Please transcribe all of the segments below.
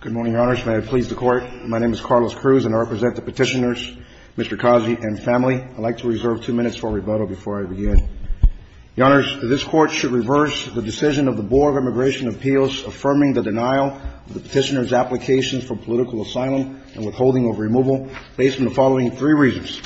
Good morning, Your Honors. May it please the Court. My name is Carlos Cruz, and I represent the petitioners, Mr. Kazi, and family. I'd like to reserve two minutes for rebuttal before I begin. Your Honors, this Court should reverse the decision of the Board of Immigration Appeals affirming the denial of the petitioners' applications for political asylum and withholding of removal based on the following three reasons.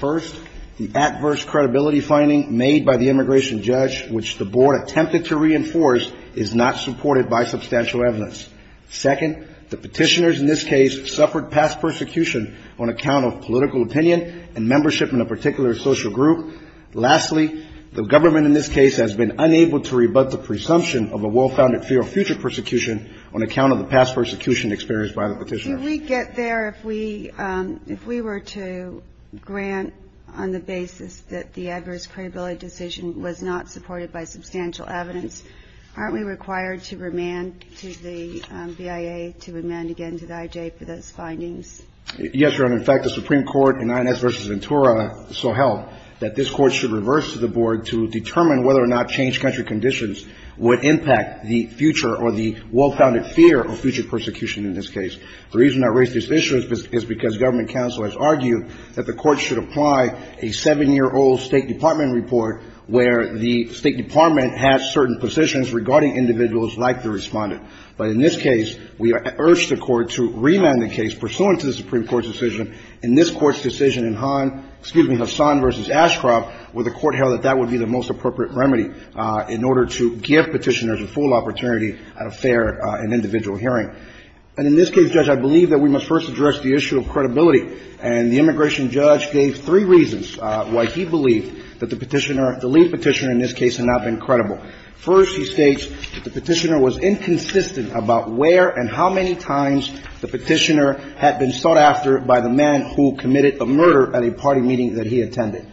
First, the adverse credibility finding made by the immigration judge, which the Board attempted to reinforce, is not supported by substantial evidence. Second, the petitioners in this case suffered past persecution on account of political opinion and membership in a particular social group. Lastly, the government in this case has been unable to rebut the presumption of a well-founded fear of future persecution on account of the past persecution experienced by the petitioners. MS. GONZALES Do we get there if we were to grant on the basis that the adverse credibility decision was not supported by substantial evidence? Aren't we required to remand to the BIA, to remand again to the IJ for those findings? MR. KAZI Yes, Your Honor. In fact, the Supreme Court in Inez v. Ventura so held that this Court should reverse to the Board to determine whether or not changed country conditions would impact the future or the well-founded fear of future persecution in this case. The reason I raise this issue is because government counsel has argued that the Court should apply a seven-year-old State Department report where the State Department has certain positions regarding individuals like the respondent. But in this case, we urge the Court to remand the case pursuant to the Supreme Court's decision. In this Court's decision in Hassan v. Ashcroft, the Court held that that would be the most appropriate remedy in order to give petitioners a full opportunity at a fair and individual hearing. And in this case, Judge, I believe that we must first address the issue of credibility. And the immigration judge gave three reasons why he believed that the petitioner, the lead petitioner in this case, had not been credible. First, he states that the petitioner was inconsistent about where and how many times the petitioner had been sought after by the man who committed a murder at a party meeting that he attended.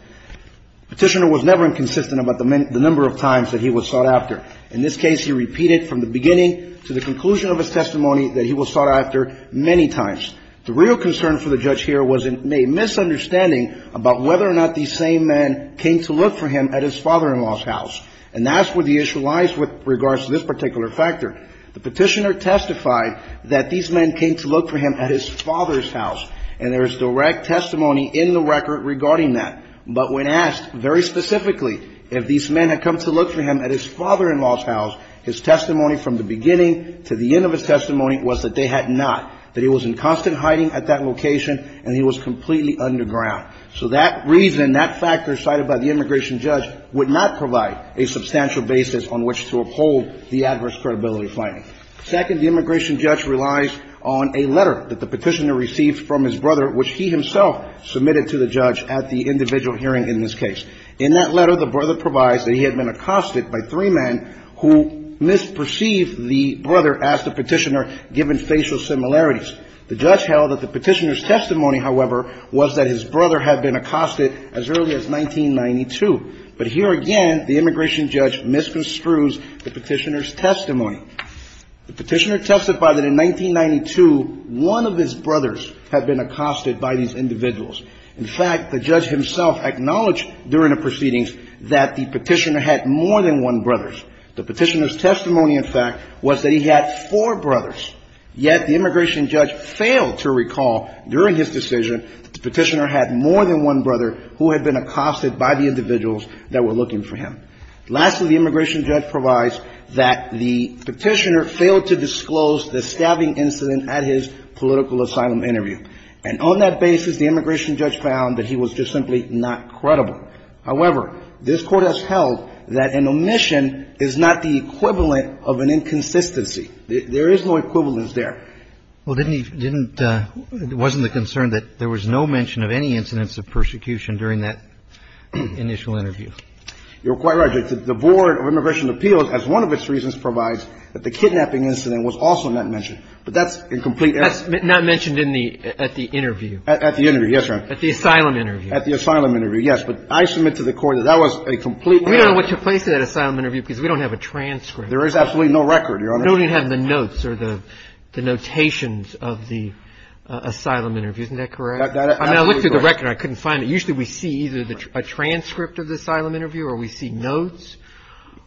The petitioner was never inconsistent about the number of times that he was sought after. In this case, he repeated from the beginning to the conclusion of his testimony that he was sought after many times. The real concern for the judge here was a misunderstanding about whether or not these same men came to look for him at his father-in-law's house. And that's where the issue lies with regards to this particular factor. The petitioner testified that these men came to look for him at his father's house. And there is direct testimony in the record regarding that. But when asked very specifically if these men had come to look for him at his father-in-law's house, his testimony from the beginning to the end of his testimony was that they had not, that he was in constant hiding at that location, and he was completely underground. So that reason, that factor cited by the immigration judge would not provide a substantial basis on which to uphold the adverse credibility finding. Second, the immigration judge relies on a letter that the petitioner received from his brother, which he himself submitted to the judge at the individual hearing in this case. In that letter, the brother provides that he had been accosted by three men who misperceived the brother as the petitioner, given facial symptoms and similarities. The judge held that the petitioner's testimony, however, was that his brother had been accosted as early as 1992. But here again, the immigration judge misconstrues the petitioner's testimony. The petitioner testified that in 1992, one of his brothers had been accosted by these individuals. In fact, the judge himself acknowledged during the proceedings that the petitioner had more than one brother. The petitioner's testimony, in fact, was that he had four brothers, yet the immigration judge failed to recall during his decision that the petitioner had more than one brother who had been accosted by the individuals that were looking for him. Lastly, the immigration judge provides that the petitioner failed to disclose the stabbing incident at his political asylum interview. And on that basis, the immigration judge found that he was just simply not credible. However, this Court has held that an omission is not the equivalent of an inconsistency. There is no equivalence there. Well, didn't he didn't it wasn't the concern that there was no mention of any incidents of persecution during that initial interview? You're quite right, Judge. The Board of Immigration Appeals, as one of its reasons, provides that the kidnapping incident was also not mentioned. But that's incomplete. That's not mentioned in the at the interview. At the interview, yes, Your Honor. At the asylum interview. At the asylum interview, yes. But I submit to the Court that that was a complete error. We don't know what took place at that asylum interview because we don't have a transcript. There is absolutely no record, Your Honor. We don't even have the notes or the notations of the asylum interview. Isn't that correct? That is absolutely correct. I mean, I looked through the record. I couldn't find it. Usually we see either a transcript of the asylum interview or we see notes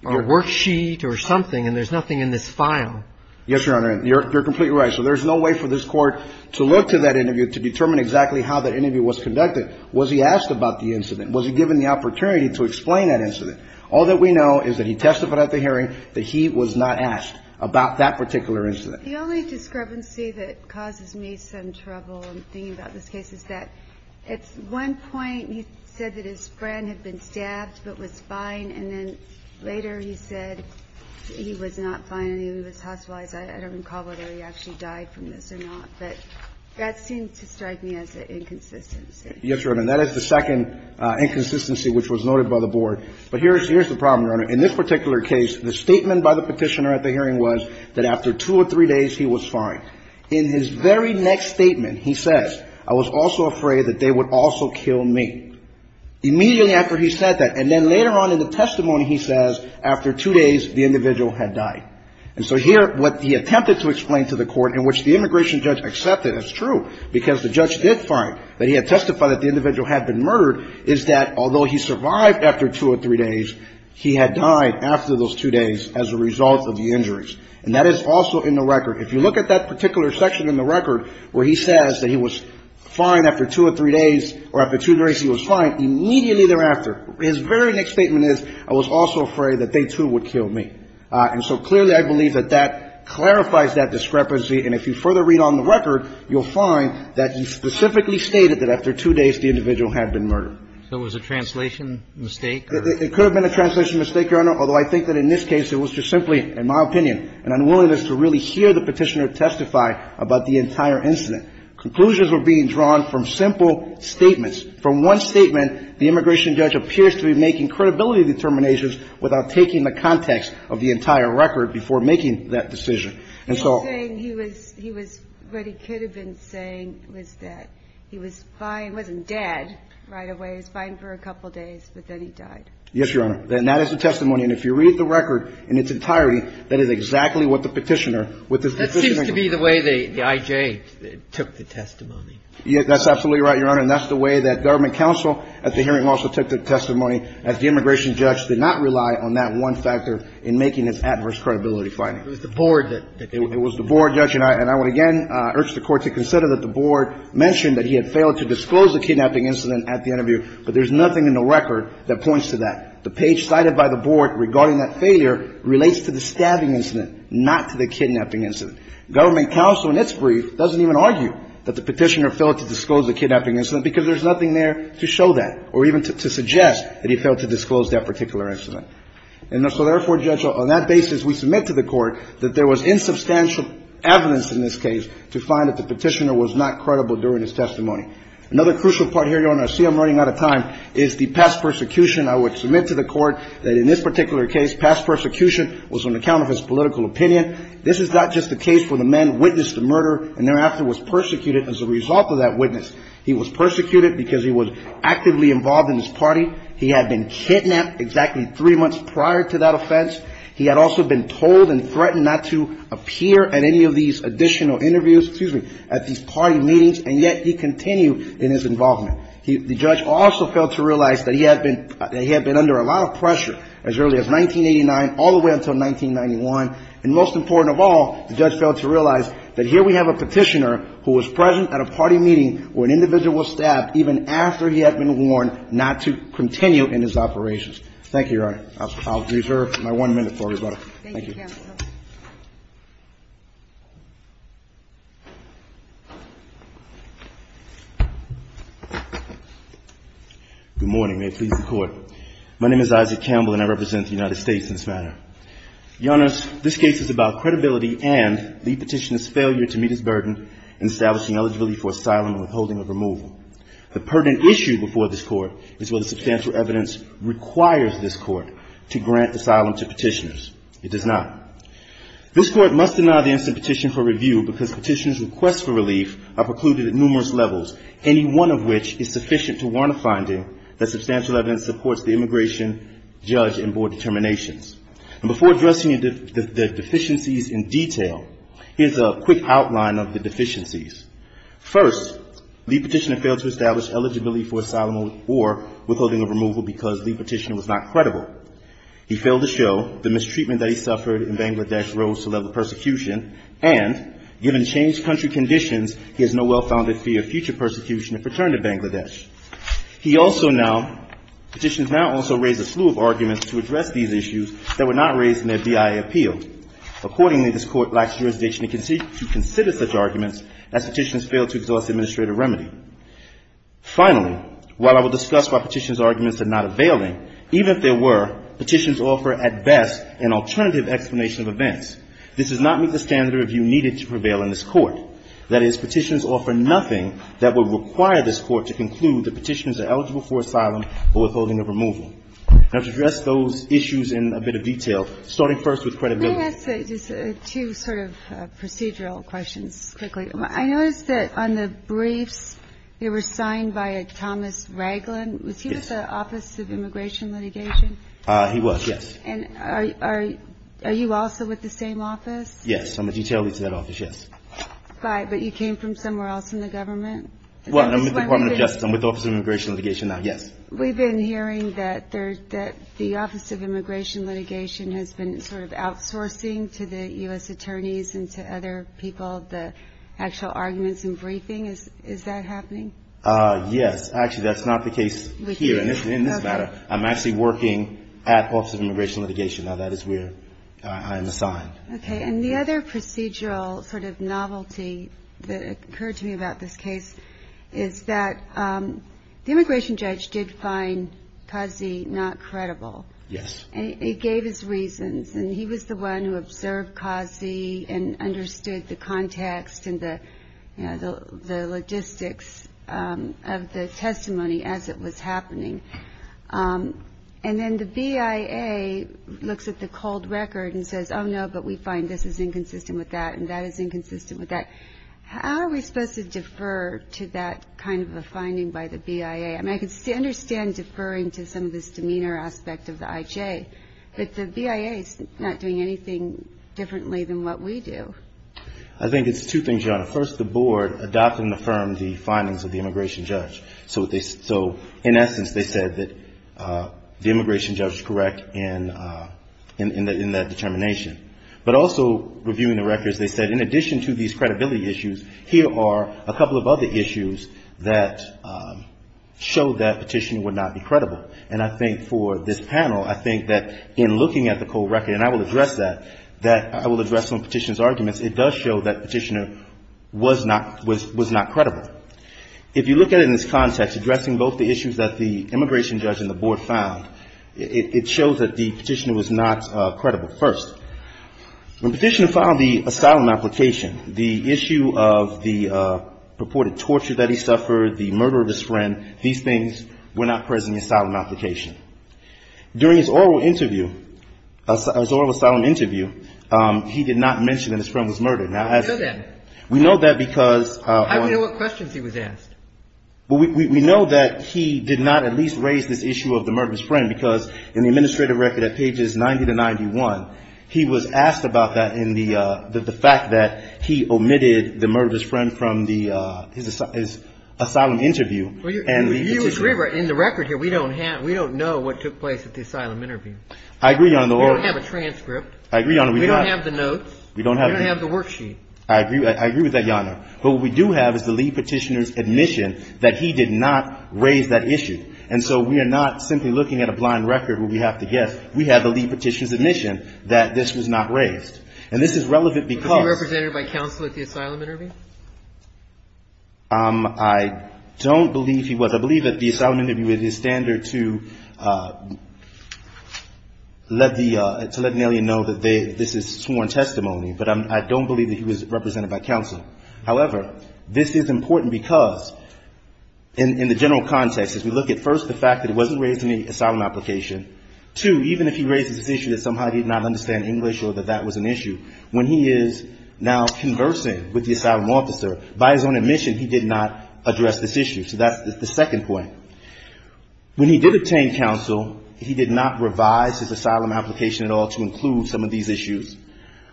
or a worksheet or something, and there's nothing in this file. Yes, Your Honor. You're completely right. So there's no way for this Court to look to that interview to determine exactly how that interview was conducted. Was he asked about the incident? Was he given the opportunity to explain that incident? All that we know is that he testified at the hearing that he was not asked about that particular incident. The only discrepancy that causes me some trouble in thinking about this case is that at one point he said that his friend had been stabbed but was fine, and then later he said he was not fine and he was hospitalized. I don't recall whether he actually died from this or not, but that seemed to strike me as an inconsistency. Yes, Your Honor. And that is the second inconsistency which was noted by the Board. But here's the problem, Your Honor. In this particular case, the statement by the Petitioner at the hearing was that after two or three days he was fine. In his very next statement, he says, I was also afraid that they would also kill me. Immediately after he said that, and then later on in the testimony, he says, after two days, the individual had died. And so here, what he attempted to explain to the Court, in which the immigration judge accepted, it's true, because the judge did find that he had testified that the he had died after those two days as a result of the injuries. And that is also in the record. If you look at that particular section in the record where he says that he was fine after two or three days, or after two days he was fine, immediately thereafter, his very next statement is, I was also afraid that they, too, would kill me. And so clearly, I believe that that clarifies that discrepancy. And if you further read on the record, you'll find that he specifically stated that after two days, the individual had been murdered. So it was a translation mistake? It could have been a translation mistake, Your Honor, although I think that in this case, it was just simply, in my opinion, an unwillingness to really hear the petitioner testify about the entire incident. Conclusions were being drawn from simple statements. From one statement, the immigration judge appears to be making credibility determinations without taking the context of the entire record before making that decision. And so The only thing he was, he was, what he could have been saying was that he was fine, he wasn't dead right away. He was fine for a couple of days, but then he died. Yes, Your Honor. And that is the testimony. And if you read the record in its entirety, that is exactly what the petitioner, with the That seems to be the way the I.J. took the testimony. Yes, that's absolutely right, Your Honor. And that's the way that government counsel at the hearing also took the testimony, as the immigration judge did not rely on that one factor in making its adverse credibility finding. It was the board that It was the board, Judge, and I would again urge the Court to consider that the board mentioned that he had failed to disclose the kidnapping incident at the interview, but there's nothing in the record that points to that. The page cited by the board regarding that failure relates to the stabbing incident, not to the kidnapping incident. Government counsel in its brief doesn't even argue that the petitioner failed to disclose the kidnapping incident because there's nothing there to show that or even to suggest that he failed to disclose that particular incident. And so therefore, Judge, on that basis, we submit to the Court that there was insubstantial evidence in this case to find that the petitioner was not credible during his testimony. Another crucial part here, Your Honor, I see I'm running out of time, is the past persecution. I would submit to the Court that in this particular case, past persecution was on account of his political opinion. This is not just a case where the man witnessed the murder and thereafter was persecuted as a result of that witness. He was persecuted because he was actively involved in his party. He had been kidnapped exactly three months prior to that offense. He had also been told and threatened not to appear at any of these additional interviews, excuse me, at these party meetings, and yet he continued in his involvement. The judge also failed to realize that he had been under a lot of pressure as early as 1989 all the way until 1991. And most important of all, the judge failed to realize that here we have a petitioner who was present at a party meeting where an individual was stabbed even after he had been warned not to continue in his operations. Thank you, Your Honor. I'll reserve my one minute for everybody. Thank you, Your Honor. Good morning. May it please the Court. My name is Isaac Campbell and I represent the United States in this matter. Your Honor, this case is about credibility and the petitioner's failure to meet his burden in establishing eligibility for asylum and withholding of removal. The pertinent issue before this Court is whether it does not. This Court must deny the instant petition for review because petitioner's requests for relief are precluded at numerous levels, any one of which is sufficient to warrant a finding that substantial evidence supports the immigration judge and board determinations. And before addressing the deficiencies in detail, here's a quick outline of the deficiencies. First, the petitioner failed to establish eligibility for asylum or withholding of removal because the petitioner was not credible. He failed to show the petitioner's treatment that he suffered in Bangladesh rose to the level of persecution, and given changed country conditions, he has no well-founded fear of future persecution if returned to Bangladesh. He also now, petitioners now also raise a slew of arguments to address these issues that were not raised in their BIA appeal. Accordingly, this Court lacks jurisdiction to consider such arguments as petitioners fail to exhaust administrative remedy. Finally, while I will discuss why petitioner's arguments are not availing, even if they were, petitions offer at best an alternative explanation of events. This does not meet the standard of review needed to prevail in this Court. That is, petitions offer nothing that would require this Court to conclude that petitioners are eligible for asylum or withholding of removal. Now, to address those issues in a bit of detail, starting first with credibility. Kagan. Let me ask two sort of procedural questions quickly. I noticed that on the briefs, they were signed by a Thomas Raglan. Yes. Was he with the Office of Immigration Litigation? He was, yes. And are you also with the same office? Yes. I'm a detail lead to that office, yes. But you came from somewhere else in the government? Well, I'm with the Department of Justice. I'm with the Office of Immigration Litigation now, yes. We've been hearing that the Office of Immigration Litigation has been sort of outsourcing to the U.S. attorneys and to other people the actual arguments and briefing. Is that happening? Yes. Actually, that's not the case here in this matter. I'm actually working at the Office of Immigration Litigation. Now, that is where I am assigned. Okay. And the other procedural sort of novelty that occurred to me about this case is that the immigration judge did find Kazi not credible. Yes. And he gave his reasons. And he was the one who observed Kazi and understood the context and the logistics of the testimony as it was happening. And then the BIA looks at the cold record and says, oh, no, but we find this is inconsistent with that and that is inconsistent with that. How are we supposed to defer to that kind of a finding by the BIA? I mean, I can understand deferring to some of this demeanor aspect of the IJ, but the BIA is not doing anything differently than what we do. I think it's two things, Your Honor. First, the board adopted and affirmed the findings of the immigration judge. So in essence, they said that the immigration judge is correct in that determination. But also, reviewing the records, they said in addition to these credibility issues, here are a couple of other issues that show that petition would not be credible. And I think for this panel, I think that in looking at the cold record, and I will address that, that I will address some of the petitioner's arguments, it does show that the petitioner was not credible. If you look at it in this context, addressing both the issues that the immigration judge and the board found, it shows that the petitioner was not credible. First, when the petitioner filed the asylum application, the issue of the purported torture that he suffered, the murder of his friend, these things were not present in the asylum application. During his oral interview, his oral asylum interview, he did not mention that his friend was murdered. Now, as we know that because I don't know what questions he was asked. We know that he did not at least raise this issue of the murder of his friend because in the administrative record at pages 90 to 91, he was asked about that in the fact that he omitted the murder of his friend from his asylum interview. And the petitioner Well, you agree in the record here, we don't have, we don't know what took place at the asylum interview. I agree, Your Honor. We don't have a transcript. I agree, Your Honor. We don't have the notes. We don't have the We don't have the worksheet. I agree. I agree with that, Your Honor. But what we do have is the lead petitioner's admission that he did not raise that issue. And so we are not simply looking at a blind record where we have to guess. We have the lead petitioner's admission that this was not raised. And this is relevant because Was he represented by counsel at the asylum interview? I don't believe he was. I believe that the asylum interview is his standard to let the, to let an alien know that they, this is sworn testimony. But I don't believe that he was represented by counsel. However, this is important because in the general context, as we look at first the fact that it wasn't raised in the asylum application, two, even if he raises this issue that somehow he did not understand English or that that was an issue, when he is now conversing with the asylum officer, by his own admission, he did not address this issue. So that's the second point. When he did obtain counsel, he did not revise his asylum application at all to include some of these issues.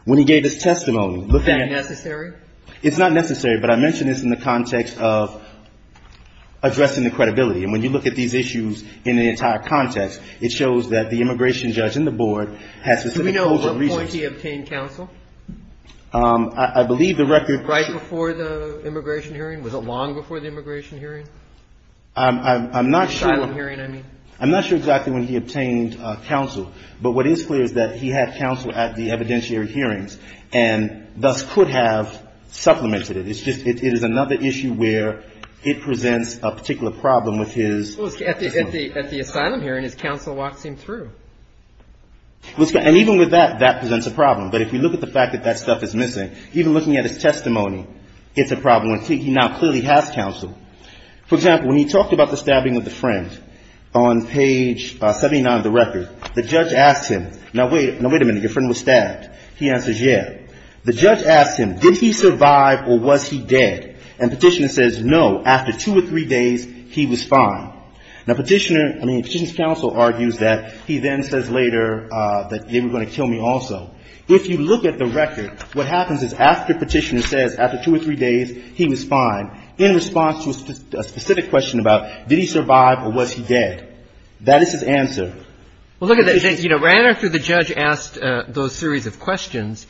When he gave his testimony, look at Is that necessary? It's not necessary, but I mentioned this in the context of addressing the credibility. And when you look at these issues in the entire context, it shows that the immigration judge and the board had specific Do we know what point he obtained counsel? I believe the record Right before the immigration hearing? Was it long before the immigration hearing? I'm not sure. Asylum hearing, I mean. I'm not sure exactly when he obtained counsel. But what is clear is that he had counsel at the evidentiary hearings and thus could have supplemented it. It's just, it is another issue where it presents a particular problem with his At the asylum hearing, his counsel walked him through. And even with that, that presents a problem. But if you look at the fact that stuff is missing, even looking at his testimony, it's a problem. He now clearly has counsel. For example, when he talked about the stabbing with a friend, on page 79 of the record, the judge asked him, now wait a minute, your friend was stabbed. He answers, yeah. The judge asked him, did he survive or was he dead? And petitioner says, no, after two or three days, he was fine. Now petitioner I mean, petitioner's counsel argues that he then says later that they were going to kill me also. If you look at the record, what happens is after petitioner says, after two or three days, he was fine, in response to a specific question about, did he survive or was he dead? That is his answer. Well, look at this. You know, right after the judge asked those series of questions,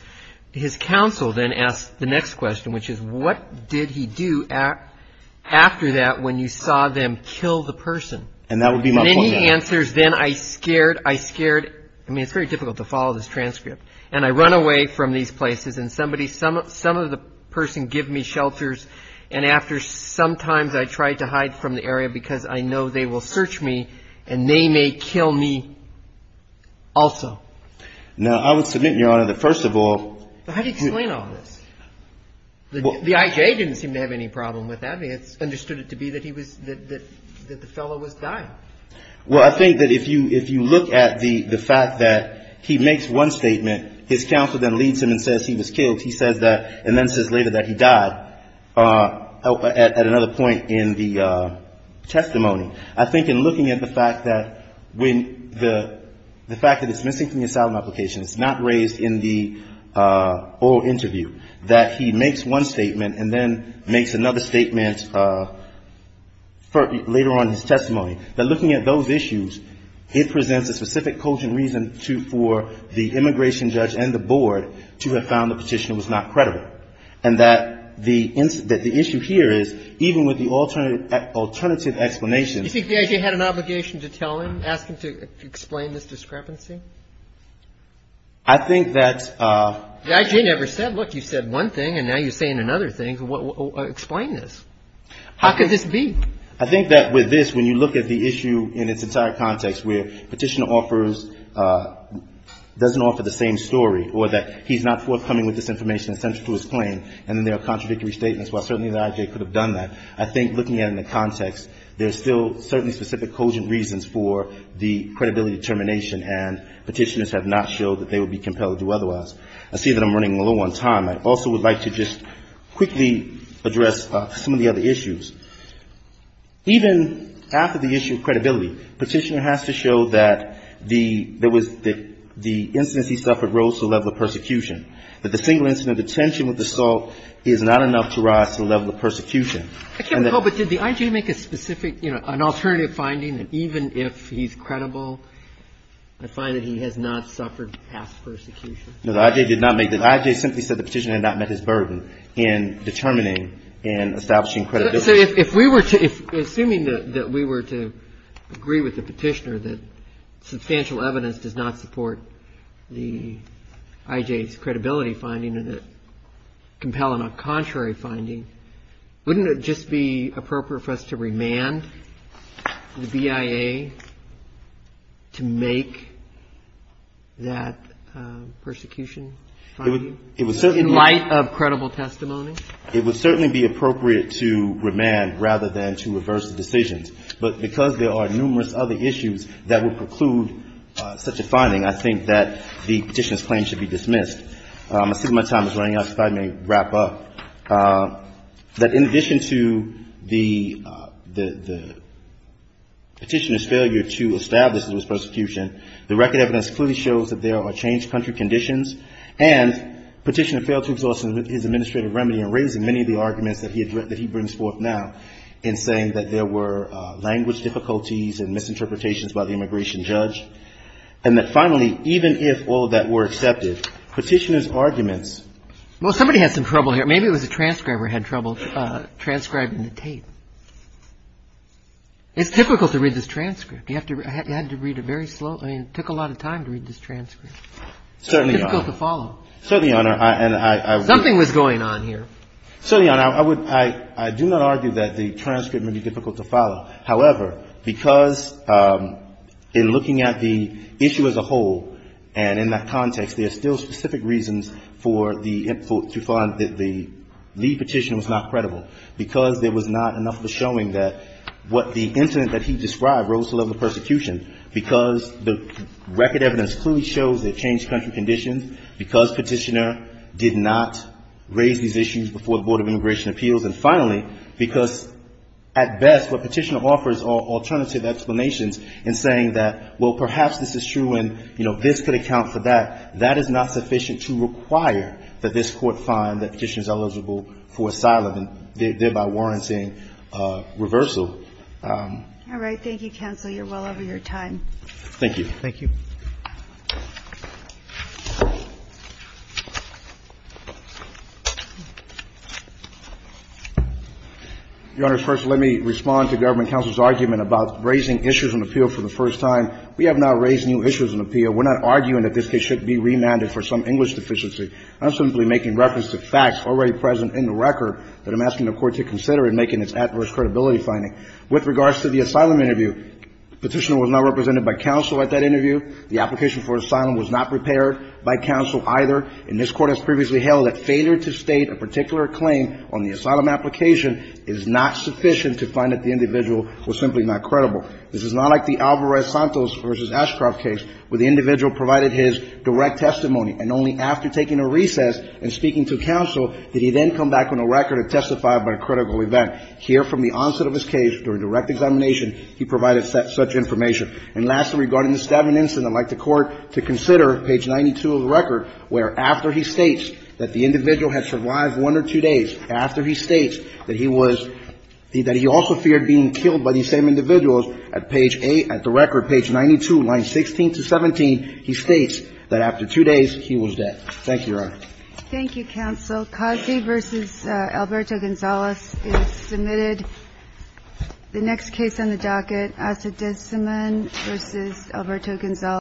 his counsel then asked the next question, which is, what did he do after that when you saw them kill the person? And that would be my point now. The answer is then I scared. I scared. I mean, it's very difficult to follow this transcript. And I run away from these places. And somebody, some of the person give me shelters. And after sometimes I try to hide from the area because I know they will search me and they may kill me also. Now, I would submit, Your Honor, that first of all How do you explain all this? The I.J. didn't seem to have any problem with that. I mean, it's understood it to be that he was, that the fellow was dying. Well, I think that if you look at the fact that he makes one statement, his counsel then leads him and says he was killed. He says that, and then says later that he died at another point in the testimony. I think in looking at the fact that when the fact that it's missing from the asylum application, it's not raised in the oral interview, that he makes one statement, that looking at those issues, it presents a specific cogent reason for the immigration judge and the board to have found the petitioner was not credible. And that the issue here is even with the alternative explanation You think the I.J. had an obligation to tell him, ask him to explain this discrepancy? I think that The I.J. never said, look, you said one thing and now you're saying another thing. Explain this. How could this be? I think that with this, when you look at the issue in its entire context where petitioner offers, doesn't offer the same story or that he's not forthcoming with this information essential to his claim and then there are contradictory statements, while certainly the I.J. could have done that, I think looking at it in the context, there's still certainly specific cogent reasons for the credibility determination and petitioners have not showed that they would be compelled to do otherwise. I see that I'm running low on time. I also would like to just quickly address some of the other issues. Even after the issue of credibility, petitioner has to show that the, there was, the instance he suffered rose to the level of persecution. That the single incident of detention with assault is not enough to rise to the level of persecution. I can't recall, but did the I.J. make a specific, you know, an alternative finding that even if he's credible, I find that he has not suffered past persecution? No, the I.J. did not make that. The I.J. simply said the petitioner had not met his burden in determining and establishing credibility. So if we were to, assuming that we were to agree with the petitioner that substantial evidence does not support the I.J.'s credibility finding and that compelling a contrary finding, wouldn't it just be appropriate for us to remand the BIA to make that persecution finding in light of credible testimony? It would certainly be appropriate to remand rather than to reverse the decisions. But because there are numerous other issues that would preclude such a finding, I think that the petitioner's claim should be dismissed. I'm assuming my time is running out, so if I may wrap up. That in addition to the petitioner's failure to establish that it was persecution, the record evidence clearly shows that there are changed country conditions, and the petitioner failed to exhaust his administrative remedy in raising many of the arguments that he brings forth now in saying that there were language difficulties and misinterpretations by the immigration judge. And that finally, even if all of that were accepted, petitioner's arguments Well, somebody had some trouble here. Maybe it was a transcriber who had trouble transcribing the tape. It's difficult to read this transcript. You have to read it very slowly. It took a lot of time to read this transcript. It's difficult to follow. Certainly, Your Honor. Something was going on here. Certainly, Your Honor. I do not argue that the transcript may be difficult to follow. However, because in looking at the issue as a whole and in that context, there are still specific reasons for the lead petitioner was not credible, because there was persecution, because the record evidence clearly shows there are changed country conditions, because petitioner did not raise these issues before the Board of Immigration Appeals, and finally, because at best what petitioner offers are alternative explanations in saying that, well, perhaps this is true and, you know, this could account for that. That is not sufficient to require that this Court find that petitioner is eligible for asylum and thereby warranting reversal. All right. Thank you, counsel. You're well over your time. Thank you. Thank you. Your Honor, first let me respond to Government Counsel's argument about raising issues on appeal for the first time. We have not raised new issues on appeal. We're not arguing that this case should be remanded for some English deficiency. I'm simply making reference to facts already present in the record that I'm asking the Court to consider in making its adverse credibility finding. With regards to the asylum interview, petitioner was not represented by counsel at that interview. The application for asylum was not prepared by counsel either. And this Court has previously held that failure to state a particular claim on the asylum application is not sufficient to find that the individual was simply not credible. This is not like the Alvarez-Santos v. Ashcroft case, where the individual provided his direct testimony, and only after taking a recess and speaking to counsel did he then come back on a record and testify about a critical event. Here, from the onset of his case, during direct examination, he provided such information. And lastly, regarding this stabbing incident, I'd like the Court to consider page 92 of the record, where after he states that the individual had survived one or two days, after he states that he was the – that he also feared being killed by these same individuals, at page 8 – at the record, page 92, lines 16 to 17, he Thank you, Your Honor. Thank you, counsel. Cosby v. Alberto Gonzales is submitted. The next case on the docket, Acidicimon v. Alberto Gonzales.